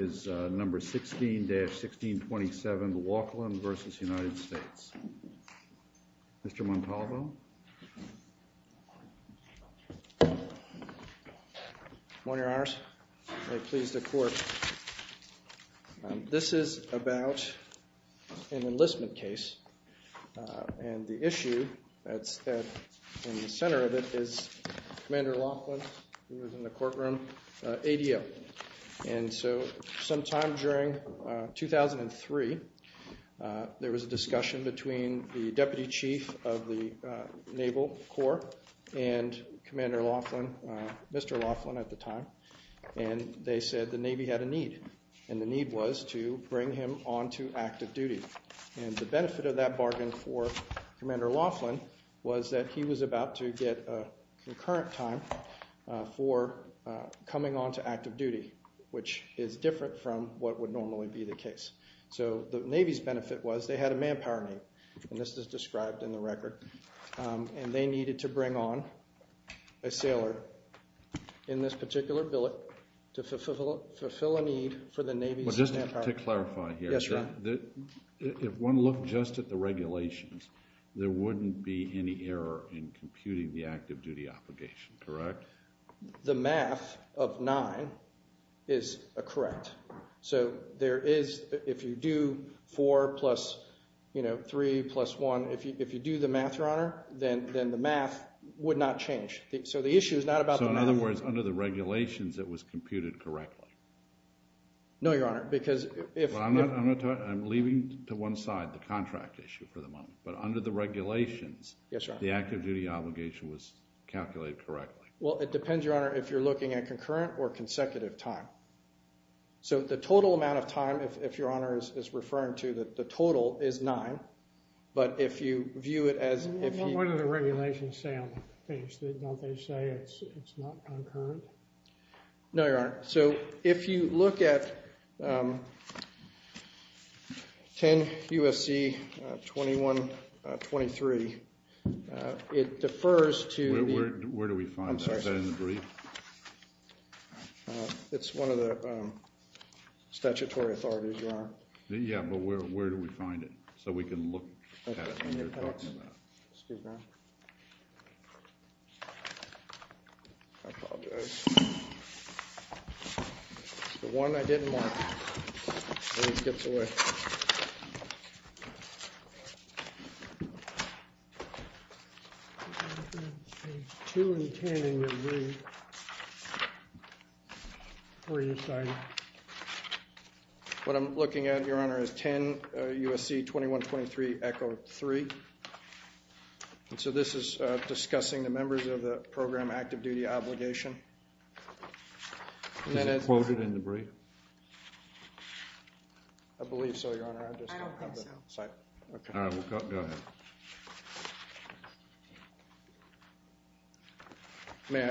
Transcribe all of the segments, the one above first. is number 16-1627, the Laughlin v. United States. Mr. Montalvo? Good morning, Your Honors. May it please the Court. This is about an enlistment case, and the issue that's in the center of it is Commander Laughlin, who is in the courtroom, ADL. And so sometime during 2003, there was a discussion between the Deputy Chief of the Naval Corps and Commander Laughlin, Mr. Laughlin at the time, and they said the Navy had a need, and the need was to bring him on to active duty. And the benefit of that bargain for concurrent time for coming on to active duty, which is different from what would normally be the case. So the Navy's benefit was they had a manpower need, and this is described in the record, and they needed to bring on a sailor in this particular billet to fulfill a need for the Navy's manpower. But just to clarify here, if one looked just at the regulations, there wouldn't be any error in computing the active duty obligation, correct? The math of 9 is correct. So there is, if you do 4 plus, you know, 3 plus 1, if you do the math, Your Honor, then the math would not change. So the issue is not about the math. So in other words, under the regulations, it was computed correctly? No, Your Honor, because if... Well, I'm leaving to one side, the contract issue for the moment, but under the regulations, the active duty obligation was calculated correctly. Well, it depends, Your Honor, if you're looking at concurrent or consecutive time. So the total amount of time, if Your Honor is referring to, that the total is 9, but if you view it as... What do the regulations say on the page? Don't they say it's not concurrent? No, Your Honor. So if you look at 10 U.S.C. 2123, it defers to... Where do we find that? Is that in the brief? It's one of the statutory authorities, Your Honor. Yeah, but where do we find it? So we can look at it when you're talking about it. Excuse me. I apologize. The one I didn't want, and it gets away. Page 2 and 10 in your brief. Where do you find it? What I'm looking at, Your Honor, is 10 U.S.C. 2123, Echo 3. And so this is discussing the members of the program active duty obligation. Is it quoted in the brief? I believe so, Your Honor. I don't think so. All right, go ahead. May I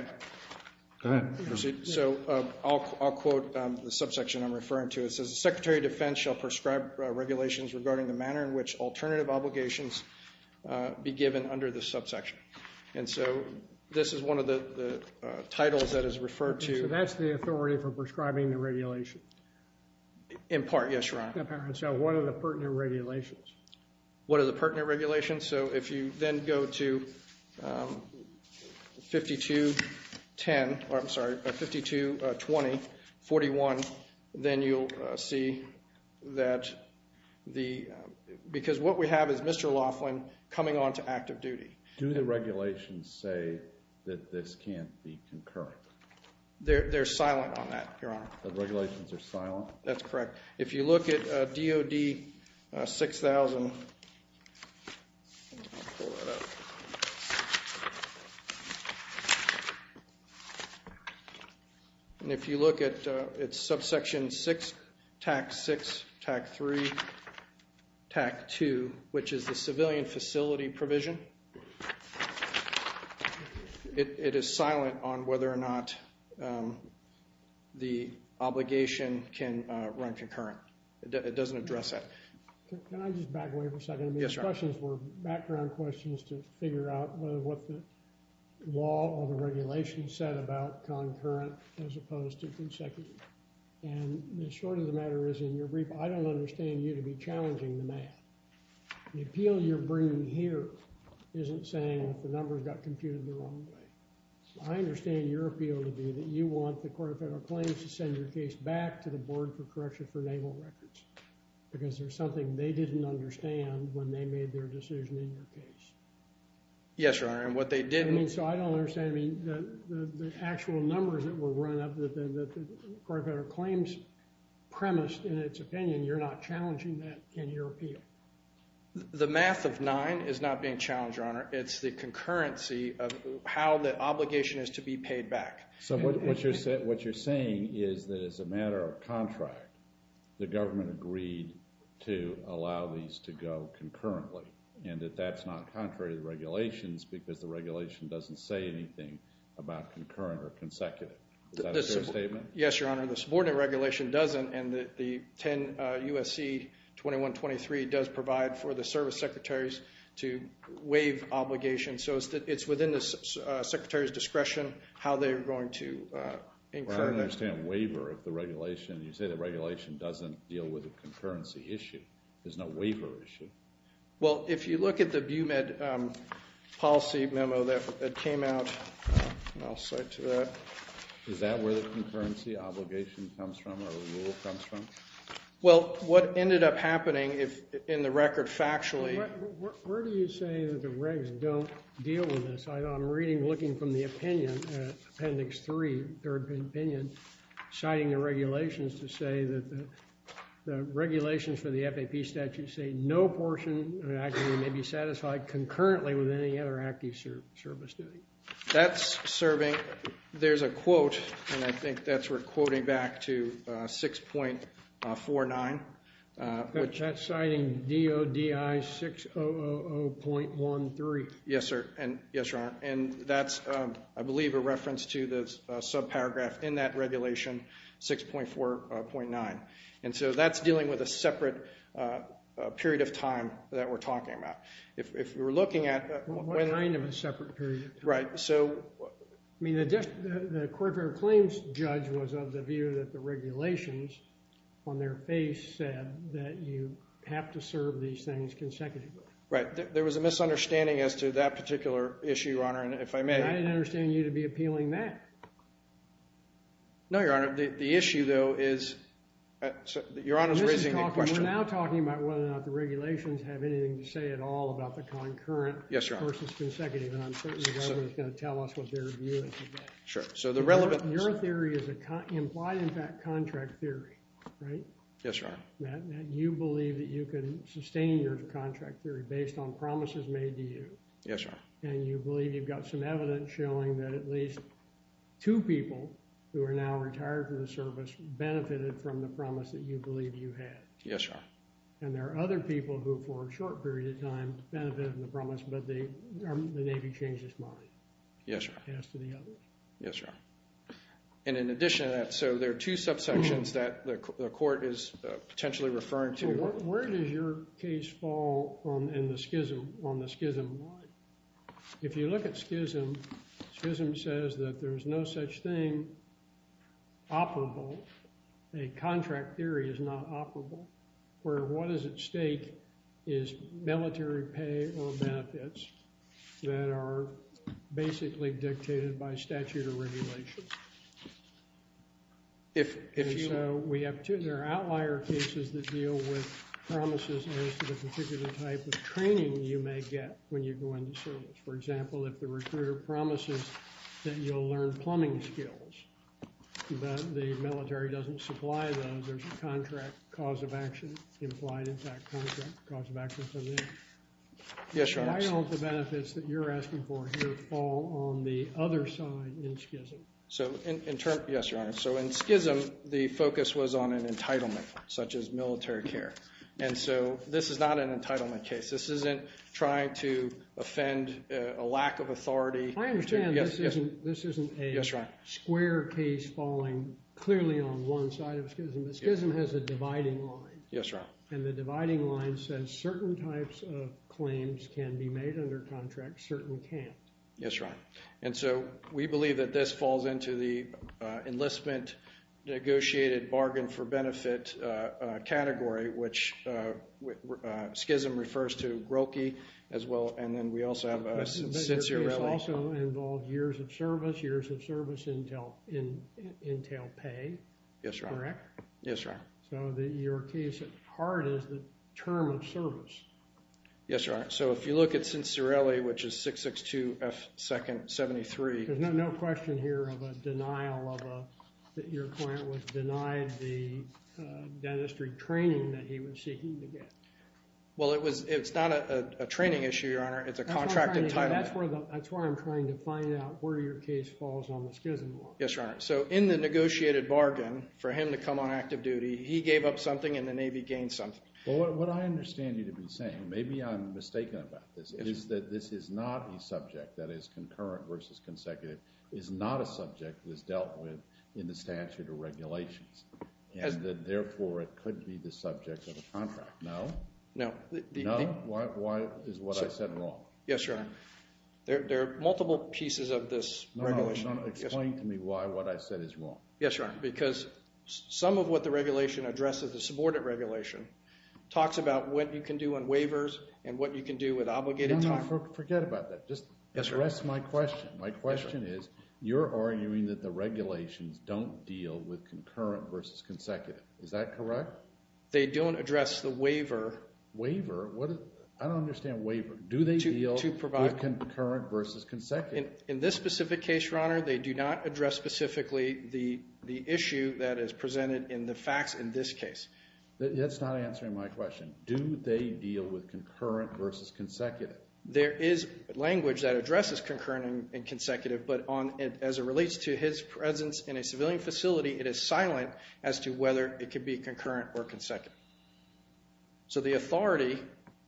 proceed? Go ahead. So I'll quote the subsection I'm referring to. It says the Secretary of Defense shall prescribe regulations regarding the manner in which alternative obligations be given under the subsection. And so this is one of the titles that is referred to. So that's the authority for prescribing the regulation? In part, yes, Your Honor. So what are the pertinent regulations? What are the pertinent regulations? So if you then go to 5210, or I'm sorry, 5220-41, then you'll see that the... Because what we have is Mr. Laughlin coming on to active duty. Do the regulations say that this can't be concurrent? They're silent on that, Your Honor. The regulations are silent? That's correct. If you look at DOD 6000... And if you look at subsection 6, TAC 6, TAC 3, TAC 2, which is the civilian facility provision, it is silent on whether or not the obligation can run concurrent. It doesn't address that. Can I just back away for a second? Yes, Your Honor. I mean, the questions were background questions to figure out whether what the law or the regulations said about concurrent as opposed to consecutive. And the short of the matter is, in your brief, I don't understand you to be challenging the math. The appeal you're bringing here isn't saying that the numbers got computed the wrong way. I understand your appeal to be that you want the Court of Federal Claims to send your case back to the Board for Correction for Naval Records because there's something they didn't understand when they made their decision in your case. Yes, Your Honor. And what they didn't... I mean, so I don't understand. I mean, the actual numbers that were run up, that the Court of Federal Claims premised in its opinion, you're not challenging that in your appeal. The math of nine is not being challenged, Your Honor. It's the concurrency of how the obligation is to be paid back. So what you're saying is that as a matter of contract, the government agreed to allow these to go concurrently and that that's not contrary to the regulations because the regulation doesn't say anything about concurrent or consecutive. Is that a fair statement? Yes, Your Honor. The subordinate regulation doesn't and the 10 USC 2123 does provide for the service secretaries to waive obligations. So it's within the secretary's discretion how they're going to incur that. Well, I don't understand waiver if the regulation, you say the regulation doesn't deal with a concurrency issue. There's no waiver issue. Well, if you look at the BUMED policy memo that came out, and I'll cite to that. Is that where the concurrency obligation comes from or rule comes from? Well, what ended up happening in the record factually. Where do you say that the regs don't deal with this? I'm reading, looking from the opinion, Appendix 3, third opinion, citing the regulations to say that the regulations for the FAP statute say no portion of activity may be satisfied concurrently with any other active service duty. That's serving, there's a quote, and I think that's we're quoting back to 6.49. That's citing DODI 600.13. Yes, sir. And yes, Your Honor. And that's, I believe, a reference to the subparagraph in that regulation, 6.4.9. And so that's dealing with a separate period of time that we're talking about. If we're looking at. What kind of a separate period? Right, so. I mean, the court of claims judge was of the view that the regulations, on their face, said that you have to serve these things consecutively. Right. There was a misunderstanding as to that particular issue, Your Honor, and if I may. And I didn't understand you to be appealing that. No, Your Honor. The issue, though, is, Your Honor's raising a question. We're now talking about whether or not the regulations have anything to say at all about the concurrent versus consecutive. And I'm certain the government is going to tell us what their view is of that. Sure. So the relevant. Your theory is a implied impact contract theory, right? Yes, Your Honor. That you believe that you can sustain your contract theory based on promises made to you. Yes, Your Honor. And you believe you've got some evidence showing that at least two people who are now retired from the service benefited from the promise that you believe you had. Yes, Your Honor. And there are other people who, for a short period of time, benefited from the promise, but the Navy changed its mind. Yes, Your Honor. As to the others. Yes, Your Honor. And in addition to that, so there are two subsections that the court is potentially referring to. Where does your case fall in the schism, on the schism? If you look at schism, schism says that there is no such thing operable, a contract theory is not operable, where what is at stake is military pay or benefits that are basically dictated by statute or regulation. If so. We have two. There are outlier cases that deal with promises as to the particular type of training you may get when you go into service. For example, if the recruiter promises that you'll learn plumbing skills, but the military doesn't supply those, there's a contract cause of action implied. In fact, contract cause of action doesn't exist. Yes, Your Honor. Why don't the benefits that you're asking for here fall on the other side in schism? Yes, Your Honor. So in schism, the focus was on an entitlement, such as military care. And so this is not an entitlement case. This isn't trying to offend a lack of authority. I understand this isn't a square case falling clearly on one side of schism. But schism has a dividing line. Yes, Your Honor. And the dividing line says certain types of claims can be made under contract, certain can't. Yes, Your Honor. And so we believe that this falls into the enlistment negotiated bargain for benefit category, which schism refers to groki as well. And then we also have Cincerelli. But your case also involved years of service, years of service in tail pay. Yes, Your Honor. Correct? Yes, Your Honor. So your case at heart is the term of service. Yes, Your Honor. So if you look at Cincerelli, which is 662F2-73. There's no question here of a denial of a, that your client was denied the dentistry training that he was seeking to get. Well, it's not a training issue, Your Honor. It's a contracted title. That's where I'm trying to find out where your case falls on the schism law. Yes, Your Honor. So in the negotiated bargain for him to come on active duty, he gave up something and the Navy gained something. Well, what I understand you to be saying, maybe I'm mistaken about this, is that this is not a subject that is concurrent versus consecutive, is not a subject that is dealt with in the statute or regulations. And therefore, it could be the subject of a contract. No. No. Why is what I said wrong? Yes, Your Honor. There are multiple pieces of this regulation. Explain to me why what I said is wrong. Yes, Your Honor. Because some of what the regulation addresses, the subordinate regulation, talks about what you can do on waivers and what you can do with obligated time. Forget about that. Just address my question. My question is, you're arguing that the regulations don't deal with concurrent versus consecutive. Is that correct? They don't address the waiver. Waiver? I don't understand waiver. Do they deal with concurrent versus consecutive? In this specific case, Your Honor, they do not address specifically the issue that is presented in the facts in this case. That's not answering my question. Do they deal with concurrent versus consecutive? There is language that addresses concurrent and consecutive, but as it relates to his presence in a civilian facility, it is silent as to whether it could be concurrent or consecutive. So the authority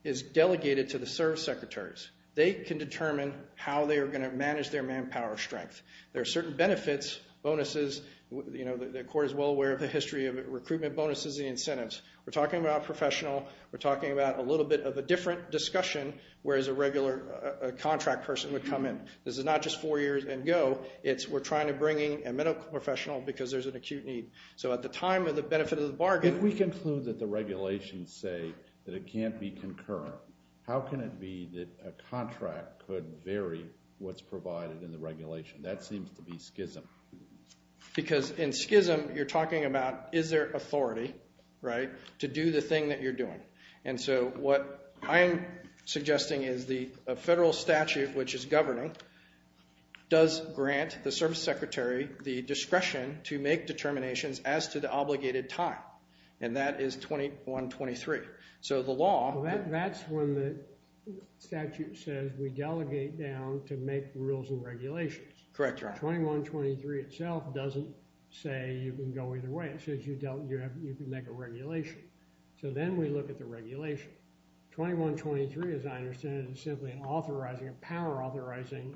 is delegated to the service secretaries. They can determine how they are going to manage their manpower strength. There are certain benefits, bonuses. The court is well aware of the history of recruitment bonuses and incentives. We're talking about professional. We're talking about a little bit of a different discussion, whereas a regular contract person would come in. This is not just four years and go. We're trying to bring in a medical professional because there's an acute need. So at the time of the benefit of the bargain- If we conclude that the regulations say that it can't be concurrent, how can it be that a contract could vary what's provided in the regulation? That seems to be schism. Because in schism, you're talking about is there authority to do the thing that you're doing. And so what I'm suggesting is the federal statute, which is governing, does grant the service secretary the discretion to make determinations as to the obligated time. And that is 2123. So the law- That's when the statute says we delegate down to make rules and regulations. Correct, Your Honor. 2123 itself doesn't say you can go either way. It says you can make a regulation. So then we look at the regulation. 2123, as I understand it, is simply an authorizing, a power authorizing,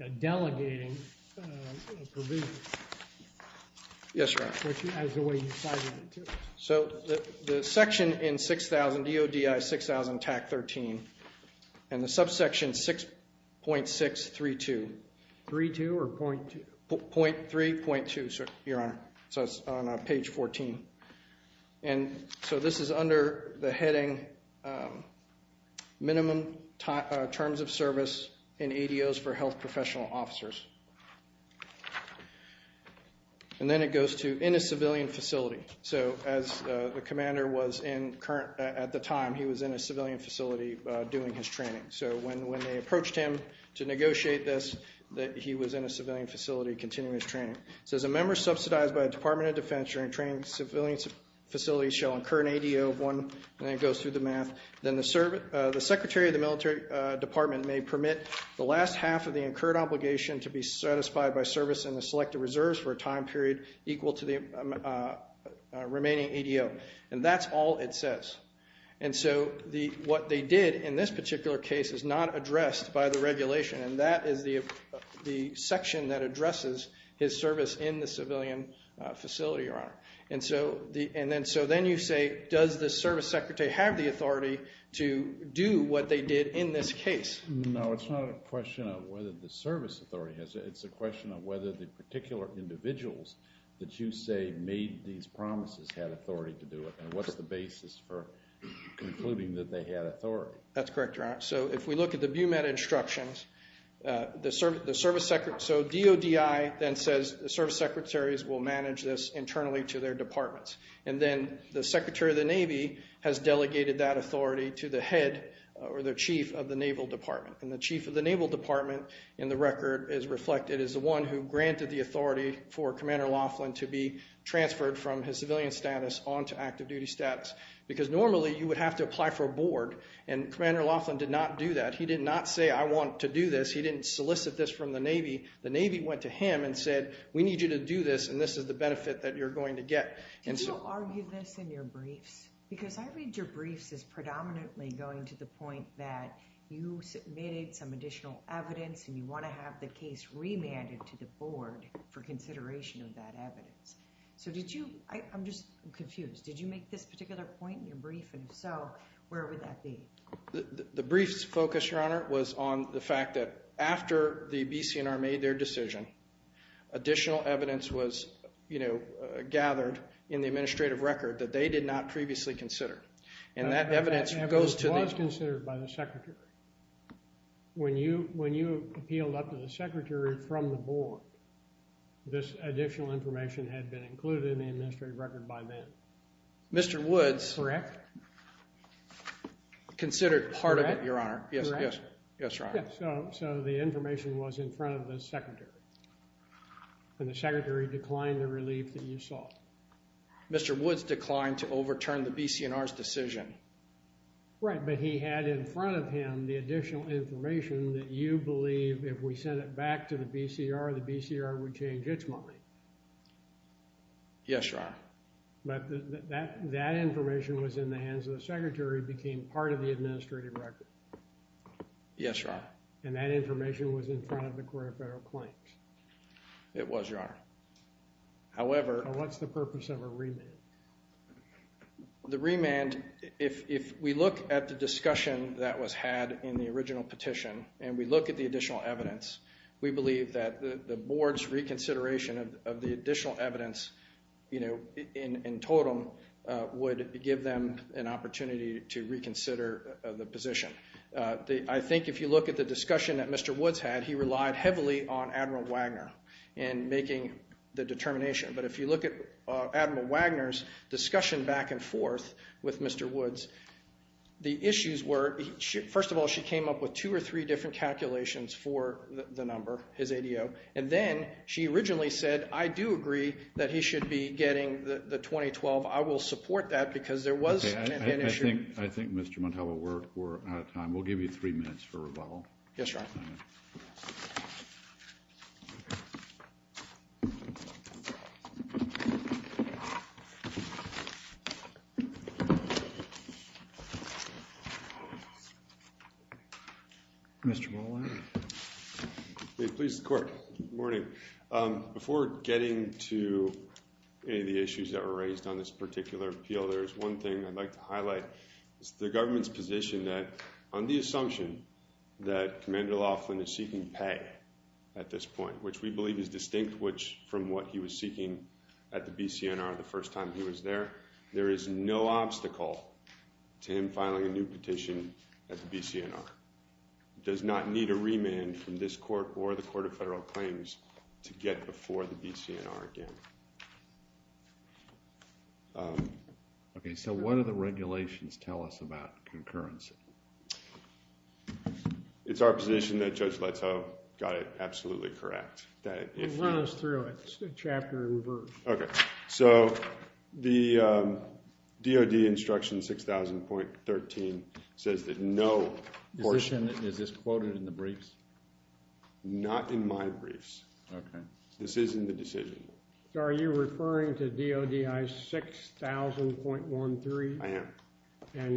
a delegating provision. Yes, Your Honor. Which is the way you're sizing it, too. So the section in 6000 DODI, 6000 TAC 13, and the subsection 6.632. 3-2 or .2? .3, .2, Your Honor. So it's on page 14. And so this is under the heading minimum terms of service in ADOs for health professional officers. And then it goes to in a civilian facility. So as the commander was in at the time, he was in a civilian facility doing his training. So when they approached him to negotiate this, he was in a civilian facility continuing his training. So as a member subsidized by the Department of Defense during training, civilian facilities shall incur an ADO of one. And it goes through the math. Then the secretary of the military department may permit the last half of the incurred obligation to be satisfied by service in the selected reserves for a time period equal to the remaining ADO. And that's all it says. And so what they did in this particular case is not addressed by the regulation. And that is the section that addresses his service in the civilian facility, Your Honor. And so then you say, does the service secretary have the authority to do what they did in this case? No, it's not a question of whether the service authority has it. It's a question of whether the particular individuals that you say made these promises had authority to do it. And what's the basis for concluding that they had authority? That's correct, Your Honor. So if we look at the BUMETA instructions, so DODI then says the service secretaries will manage this internally to their departments. And then the secretary of the Navy has delegated that authority to the head or the chief of the Naval Department. And the chief of the Naval Department in the record is reflected as the one who granted the authority for Commander Laughlin to be transferred from his civilian status onto active duty status. Because normally, you would have to apply for a board. And Commander Laughlin did not do that. He did not say, I want to do this. He didn't solicit this from the Navy. The Navy went to him and said, we need you to do this. And this is the benefit that you're going to get. Did you argue this in your briefs? Because I read your briefs as predominantly going to the point that you submitted some additional evidence. And you want to have the case remanded to the board for consideration of that evidence. So did you, I'm just confused. Did you make this particular point in your brief? And if so, where would that be? The brief's focus, Your Honor, was on the fact that after the BCNR made their decision, additional evidence was gathered in the administrative record that they did not previously consider. And that evidence goes to the- It was considered by the secretary. When you appealed up to the secretary from the board, this additional information had been included in the administrative record by then. Mr. Woods- Correct. Considered part of it, Your Honor. Yes, yes, yes, Your Honor. So the information was in front of the secretary. And the secretary declined the relief that you sought. Mr. Woods declined to overturn the BCNR's decision. Right, but he had in front of him the additional information that you believe if we sent it back to the BCR, the BCR would change its mind. Yes, Your Honor. But that information was in the hands of the secretary, became part of the administrative record. Yes, Your Honor. And that information was in front of the Court of Federal Claims. It was, Your Honor. However- What's the purpose of a remand? The remand, if we look at the discussion that was had in the original petition, and we look at the additional evidence, we believe that the board's reconsideration of the additional evidence in totem would give them an opportunity to reconsider the position. I think if you look at the discussion that Mr. Woods had, he relied heavily on Admiral Wagner in making the determination. But if you look at Admiral Wagner's discussion back and forth with Mr. Woods, the issues were, first of all, she came up with two or three different calculations for the number, his ADO. And then she originally said, I do agree that he should be getting the 2012. I will support that because there was an issue- I think, Mr. Montalvo, we're out of time. We'll give you three minutes for rebuttal. Yes, Your Honor. Mr. Molina. May it please the Court. Good morning. Before getting to any of the issues that were raised on this particular appeal, there is one thing I'd like to highlight. It's the government's position that on the assumption that Commander Laughlin is seeking pay at this point, which we believe is distinct from what he was seeking at the BCNR the first time he was there, there is no obstacle to him filing a new petition at the BCNR. It does not need a remand from this Court or the Court of Federal Claims to get before the BCNR again. Okay. So what do the regulations tell us about concurrency? It's our position that Judge Leto got it absolutely correct. Run us through it, chapter and verse. Okay. So the DOD instruction 6000.13 says that no portion. Is this quoted in the briefs? Not in my briefs. Okay. This is in the decision. Are you referring to DODI 6000.13? I am. And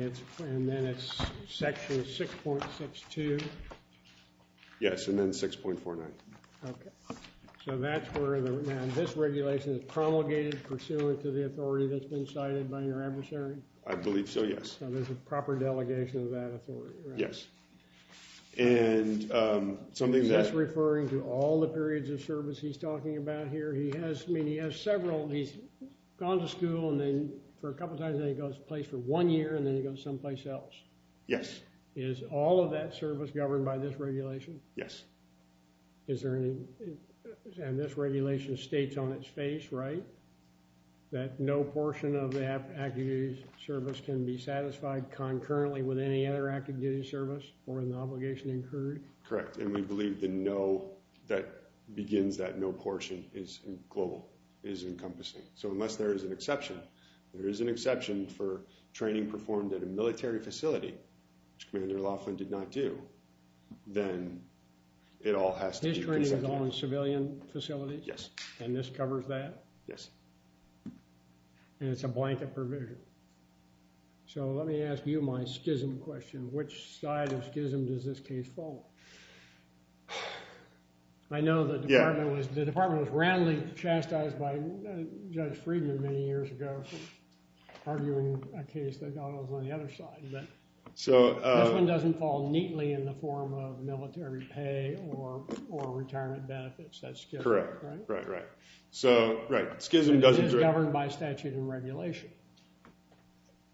then it's section 6.62? Yes, and then 6.49. Okay. So that's where this regulation is promulgated pursuant to the authority that's been cited by your adversary? I believe so, yes. So there's a proper delegation of that authority, right? Yes. And something that... Is this referring to all the periods of service he's talking about here? He has, I mean, he has several. He's gone to school, and then for a couple of times, then he goes to place for one year, and then he goes someplace else. Yes. Is all of that service governed by this regulation? Yes. Is there any... And this regulation states on its face, right? That no portion of the active duty service can be satisfied concurrently with any other active duty service or an obligation incurred? Correct. And we believe that no, that begins that no portion is global, is encompassing. So unless there is an exception, there is an exception for training performed at a military facility, which Commander Laughlin did not do, then it all has to be... His training is on civilian facilities? Yes. And this covers that? Yes. And it's a blanket provision. So let me ask you my schism question. Which side of schism does this case fall on? I know the department was... The department was roundly chastised by Judge Friedman many years ago for a case that was on the other side. But this one doesn't fall neatly in the form of military pay or retirement benefits. That's correct, right? Right, right. So, right. Schism doesn't... It is governed by statute and regulation.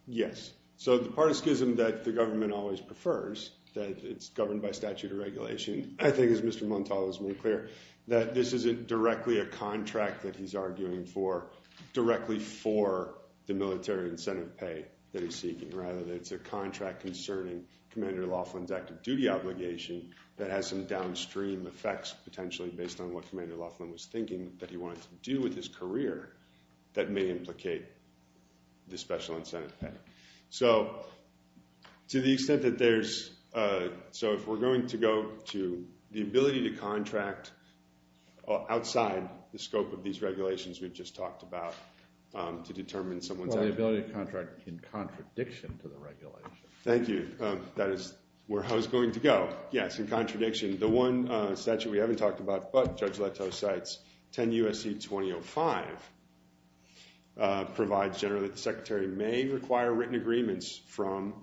Yes. So the part of schism that the government always prefers, that it's governed by statute and regulation, I think as Mr. Montalvo has made clear, that this isn't directly a contract that he's arguing for directly for the military incentive pay that he's seeking, rather that it's a contract concerning Commander Laughlin's active duty obligation that has some downstream effects potentially based on what Commander Laughlin was thinking that he wanted to do with his career that may implicate the special incentive pay. So to the extent that there's... So if we're going to go to the ability to contract outside the scope of these regulations we've just talked about to determine someone's... Or the ability to contract in contradiction to the regulation. Thank you. That is where I was going to go. Yes, in contradiction. The one statute we haven't talked about but Judge Leto cites, 10 U.S.C. 2005, provides generally that the secretary may require written agreements from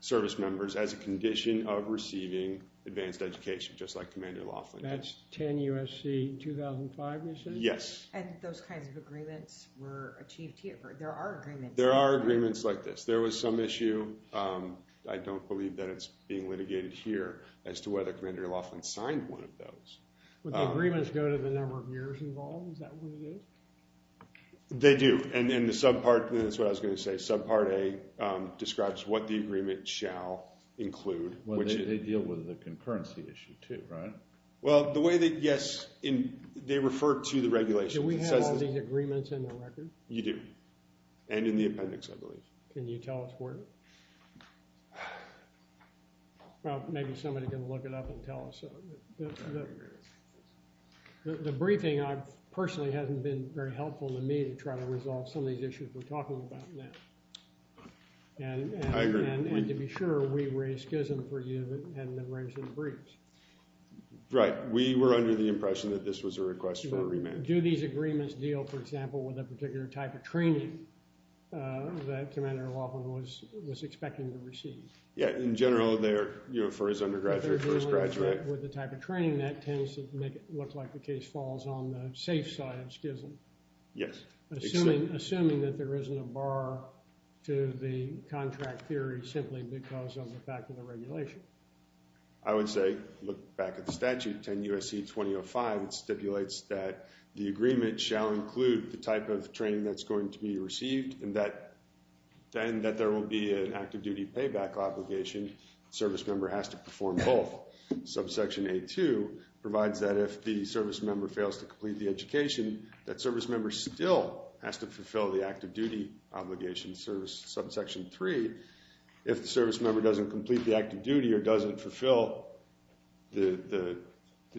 service members as a condition of receiving advanced education, just like Commander Laughlin did. That's 10 U.S.C. 2005 you said? Yes. And those kinds of agreements were achieved here? There are agreements. There are agreements like this. There was some issue, I don't believe that it's being litigated here, as to whether Commander Laughlin signed one of those. Would the agreements go to the number of years involved? Is that what they do? They do. And then the subpart, and that's what I was going to say, subpart A describes what the They deal with the concurrency issue too, right? Well, the way that, yes, they refer to the regulations. Do we have all these agreements in the record? You do. And in the appendix, I believe. Can you tell us where? Well, maybe somebody can look it up and tell us. The briefing, personally, hasn't been very helpful to me to try to resolve some of these issues we're talking about now. I agree. And to be sure, we raised schism for you that hadn't been raised in the briefs. Right. We were under the impression that this was a request for a remand. Do these agreements deal, for example, with a particular type of training that Commander Laughlin was expecting to receive? Yeah. In general, they're, you know, for his undergraduate, first graduate. With the type of training that tends to make it look like the case falls on the safe side of schism. Yes. Assuming that there isn't a bar to the contract theory simply because of the fact of the regulation. I would say, look back at the statute, 10 U.S.C. 2005, it stipulates that the agreement shall include the type of training that's going to be received and that there will be an active duty payback obligation. Service member has to perform both. Subsection A-2 provides that if the service member fails to complete the education, that has to fulfill the active duty obligation service. Subsection 3, if the service member doesn't complete the active duty or doesn't fulfill the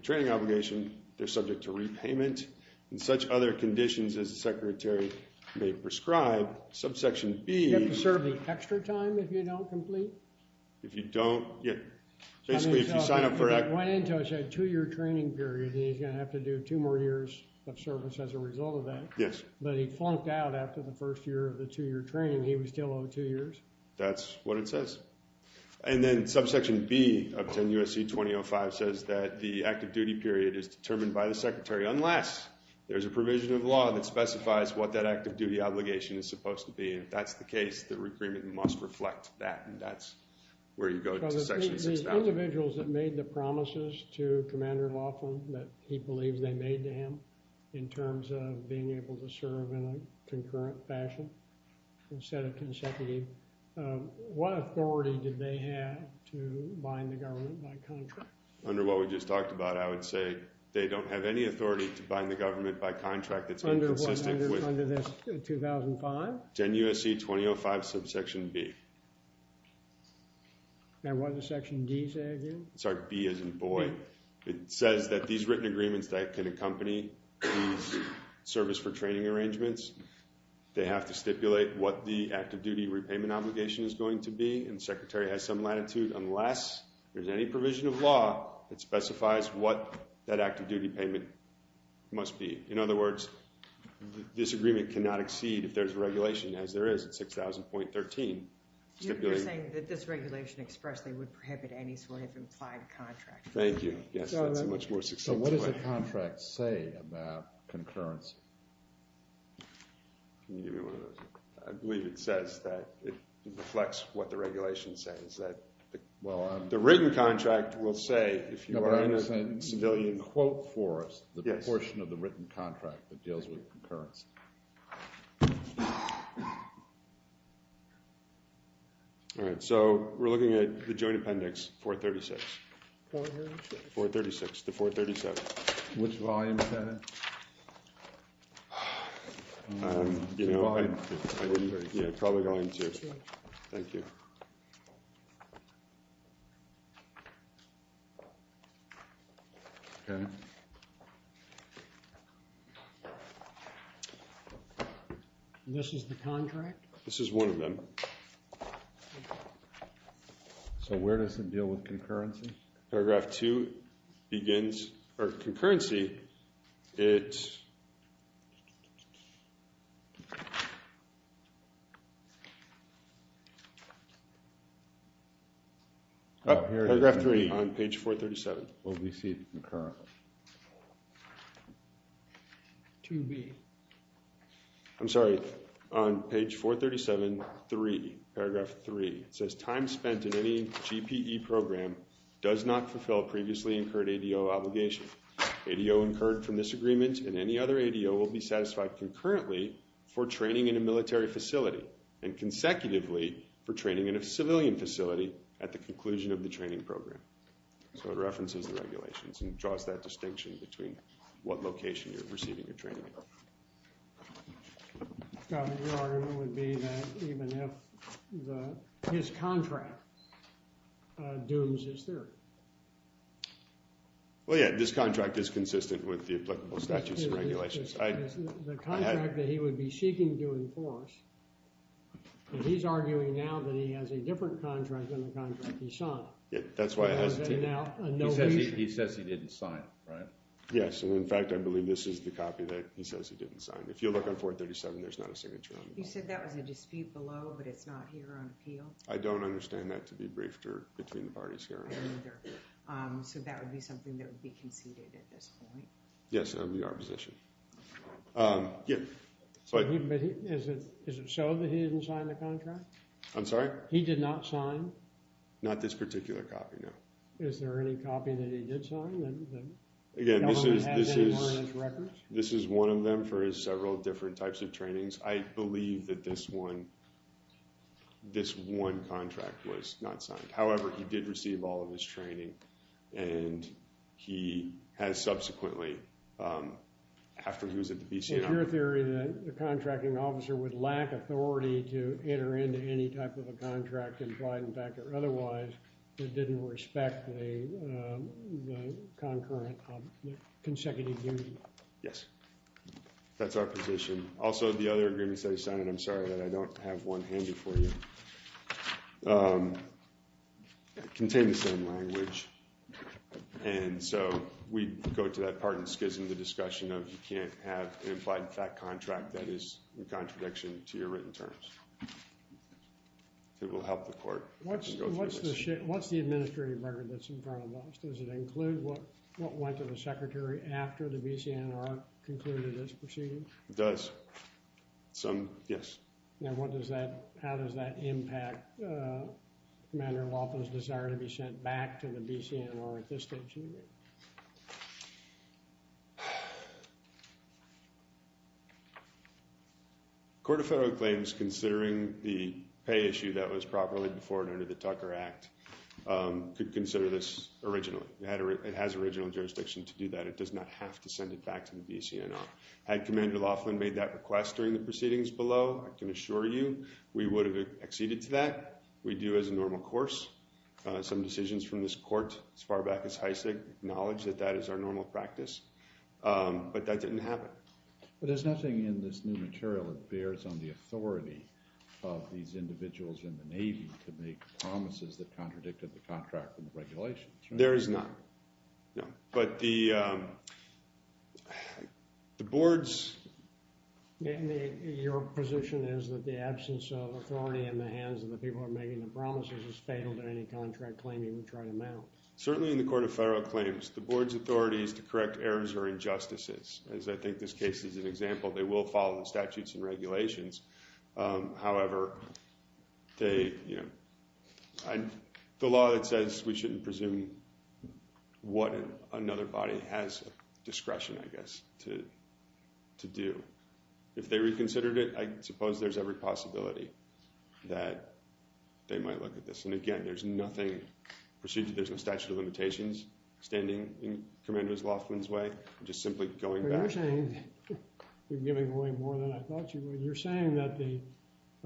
training obligation, they're subject to repayment in such other conditions as the Secretary may prescribe. Subsection B- You have to serve the extra time if you don't complete? If you don't, yeah. Basically, if you sign up for- That went into a two-year training period and he's going to have to do two more years of service as a result of that. Yes. But he flunked out after the first year of the two-year training. He was still owed two years. That's what it says. And then subsection B of 10 U.S.C. 2005 says that the active duty period is determined by the Secretary unless there's a provision of law that specifies what that active duty obligation is supposed to be. And if that's the case, the agreement must reflect that. And that's where you go to section 6000. The individuals that made the promises to Commander Laughlin that he believes they made in terms of being able to serve in a concurrent fashion instead of consecutive, what authority did they have to bind the government by contract? Under what we just talked about, I would say they don't have any authority to bind the government by contract that's inconsistent with- Under this 2005? 10 U.S.C. 2005 subsection B. And what does section D say again? Sorry, B isn't void. It says that these written agreements that can accompany these service for training arrangements, they have to stipulate what the active duty repayment obligation is going to be. And the Secretary has some latitude unless there's any provision of law that specifies what that active duty payment must be. In other words, this agreement cannot exceed if there's a regulation as there is at 6000.13. You're saying that this regulation expressly would prohibit any sort of implied contract. Thank you. Yes, that's a much more succinct way. So what does the contract say about concurrency? Can you give me one of those? I believe it says that it reflects what the regulation says that the written contract will say if you are in a civilian- Quote for us the portion of the written contract that deals with concurrency. All right, so we're looking at the Joint Appendix 436. 436 to 437. Which volume is that? You know, I didn't- Yeah, probably volume two. Thank you. Okay. This is the contract? This is one of them. So where does it deal with concurrency? Paragraph two begins, or concurrency, it- Oh, here it is. Paragraph three on page 437. OVC, McCarroll. 2B. I'm sorry, on page 437, three. Paragraph three. It says time spent in any GPE program does not fulfill previously incurred ADO obligation. ADO incurred from this agreement and any other ADO will be satisfied concurrently for training in a military facility and consecutively for training in a civilian facility at the conclusion of the training program. So it references the regulations and draws that distinction between what location you're receiving your training. So your argument would be that even if the- his contract dooms his theory? Well, yeah. This contract is consistent with the applicable statutes and regulations. The contract that he would be seeking to enforce, and he's arguing now that he has a different contract than the contract he signed. Yeah, that's why I hesitated. He says he didn't sign it, right? Yes, and in fact, I believe this is the copy that he says he didn't sign. If you look on 437, there's not a signature on it. You said that was a dispute below, but it's not here on appeal? I don't understand that to be briefed or between the parties here. So that would be something that would be conceded at this point? Yes, that would be our position. Is it so that he didn't sign the contract? I'm sorry? He did not sign? Not this particular copy, no. Is there any copy that he did sign? Again, this is one of them for his several different types of trainings. I believe that this one contract was not signed. However, he did receive all of his training, and he has subsequently, after he was at the BCI. Is your theory that the contracting officer would lack authority to enter into any type of a contract and provide, in fact, or otherwise, that didn't respect the concurrent consecutive union? Yes, that's our position. Also, the other agreements that he signed, and I'm sorry that I don't have one handed for you, contain the same language. And so we go to that part in schism, the discussion of you can't have an implied contract that is in contradiction to your written terms. It will help the court. What's the administrative record that's in front of us? Does it include what went to the secretary after the BCNR concluded its proceedings? It does. Some, yes. Now, how does that impact Commander Laupin's desire to be sent back to the BCNR at this stage in the year? The Court of Federal Claims, considering the pay issue that was properly before and under the Tucker Act, could consider this originally. It has original jurisdiction to do that. It does not have to send it back to the BCNR. Had Commander Laughlin made that request during the proceedings below, I can assure you we would have acceded to that. We do as a normal course. Some decisions from this court as far back as Heisig acknowledge that that is our normal practice. But that didn't happen. But there's nothing in this new material that bears on the authority of these individuals in the Navy to make promises that contradicted the contract and the regulations, right? There is not, no. But the boards... Your position is that the absence of authority in the hands of the people making the promises is fatal to any contract claim you would try to mount? Certainly in the Court of Federal Claims, the board's authority is to correct errors or injustices. As I think this case is an example, they will follow the statutes and regulations. However, the law that says we shouldn't presume what another body has discretion, I guess, to do. If they reconsidered it, I suppose there's every possibility that they might look at this. And again, there's nothing... There's no statute of limitations standing in Commandant Loftin's way. I'm just simply going back... You're saying... You're giving away more than I thought you would. You're saying that the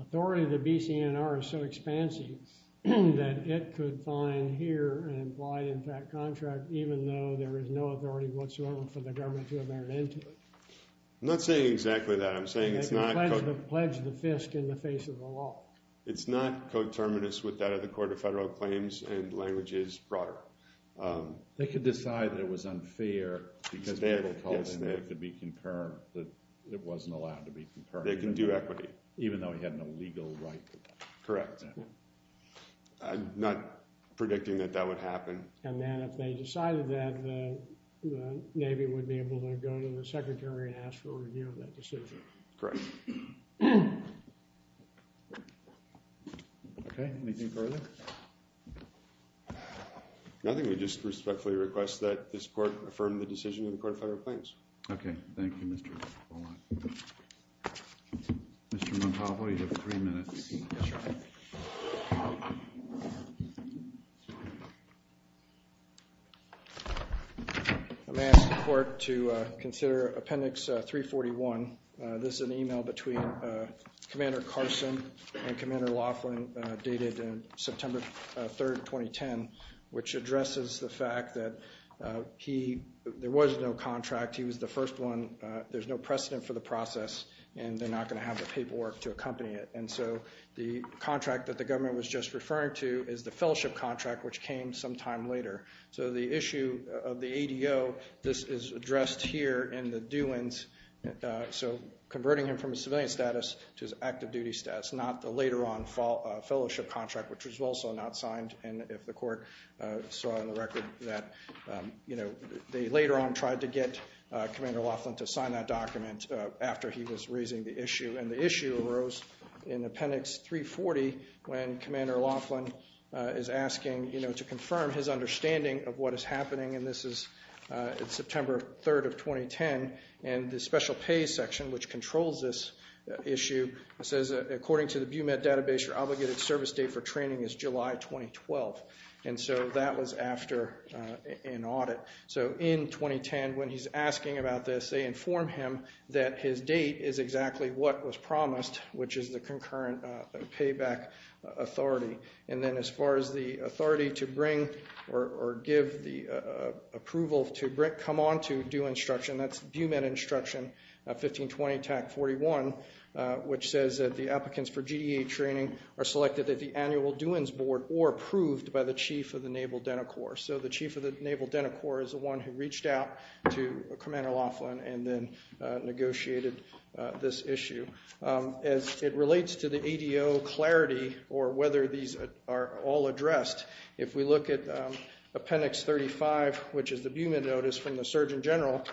authority of the BCNR is so expansive that it could find here an implied impact contract even though there is no authority whatsoever for the government to have entered into it. I'm not saying exactly that. I'm saying it's not... It could pledge the fisk in the face of the law. It's not coterminous with that of the Court of Federal Claims and languages broader. They could decide that it was unfair because people told him that it could be concurred, that it wasn't allowed to be concurred. They can do equity. Even though he had no legal right to that. Correct. I'm not predicting that that would happen. And then if they decided that, the Navy would be able to go to the Secretary and ask for a review of that decision. Correct. OK. Anything further? Nothing. We just respectfully request that this Court affirm the decision of the Court of Federal Claims. OK. Thank you, Mr. Mr. Montalvo, you have three minutes. I'm asking the Court to consider Appendix 341. This is an email between Commander Carson and Commander Laughlin, dated September 3, 2010, which addresses the fact that there was no contract. He was the first one. There's no precedent for the process, and they're not going to have the paperwork to accompany it. And so the contract that the government was just referring to is the fellowship contract, which came some time later. So the issue of the ADO, this is addressed here in the doings. So converting him from a civilian status to his active duty status, not the later on fellowship contract, which was also not signed. And if the Court saw on the record that they later on tried to get Commander Laughlin to sign that document after he was raising the issue. And the issue arose in Appendix 340, when Commander Laughlin is asking to confirm his understanding of what is happening. And this is September 3, 2010. And the special pay section, which controls this issue, says, according to the BUMed database, your obligated service date for training is July 2012. And so that was after an audit. So in 2010, when he's asking about this, they inform him that his date is exactly what was promised, which is the concurrent payback authority. And then as far as the authority to bring or give the approval to come on to instruction, that's BUMed instruction 1520-41, which says that the applicants for GDA training are selected at the annual doings board or approved by the chief of the Naval Dental Corps. So the chief of the Naval Dental Corps is the one who reached out to Commander Laughlin and then negotiated this issue. As it relates to the ADO clarity or whether these are all addressed, if we look at Appendix 35, which is the BUMed notice from the Surgeon General,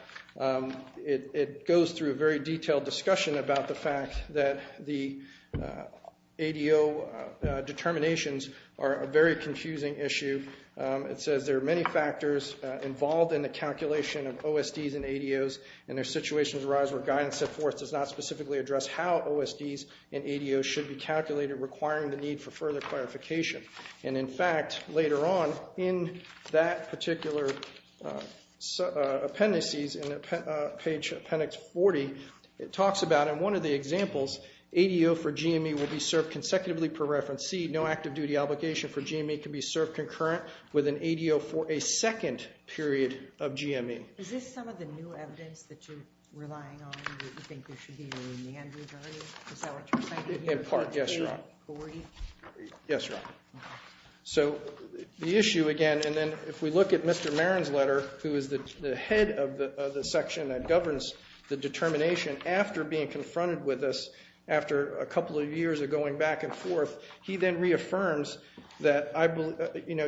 it goes through a very detailed discussion about the fact that the ADO determinations are a very confusing issue. It says there are many factors involved in the calculation of OSDs and ADOs. And there are situations where guidance set forth does not specifically address how OSDs and ADOs should be calculated, requiring the need for further clarification. And in fact, later on in that particular appendices, in page Appendix 40, it talks about, in one of the examples, ADO for GME will be served consecutively per reference. C, no active duty obligation for GME can be served concurrent with an ADO for a second period of GME. Is this some of the new evidence that you're relying on, that you think there should be a remand authority? Is that what you're saying? In part, yes, Your Honor. Yes, Your Honor. So the issue, again, and then if we look at Mr. Marin's letter, who is the head of the section that governs the determination after being confronted with us after a couple of years of going back and forth, he then reaffirms that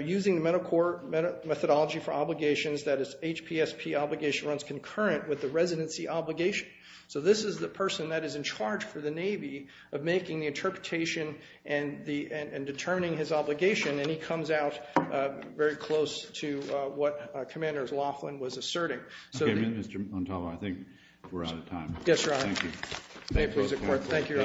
using the mental core methodology for obligations, that his HPSP obligation runs concurrent with the residency obligation. So this is the person that is in charge for the Navy of making the interpretation and determining his obligation. And he comes out very close to what Commanders Laughlin was asserting. OK, Mr. Montalvo, I think we're out of time. Yes, Your Honor. Thank you. May it please the Court. Thank you, Your Honor. Happy holidays.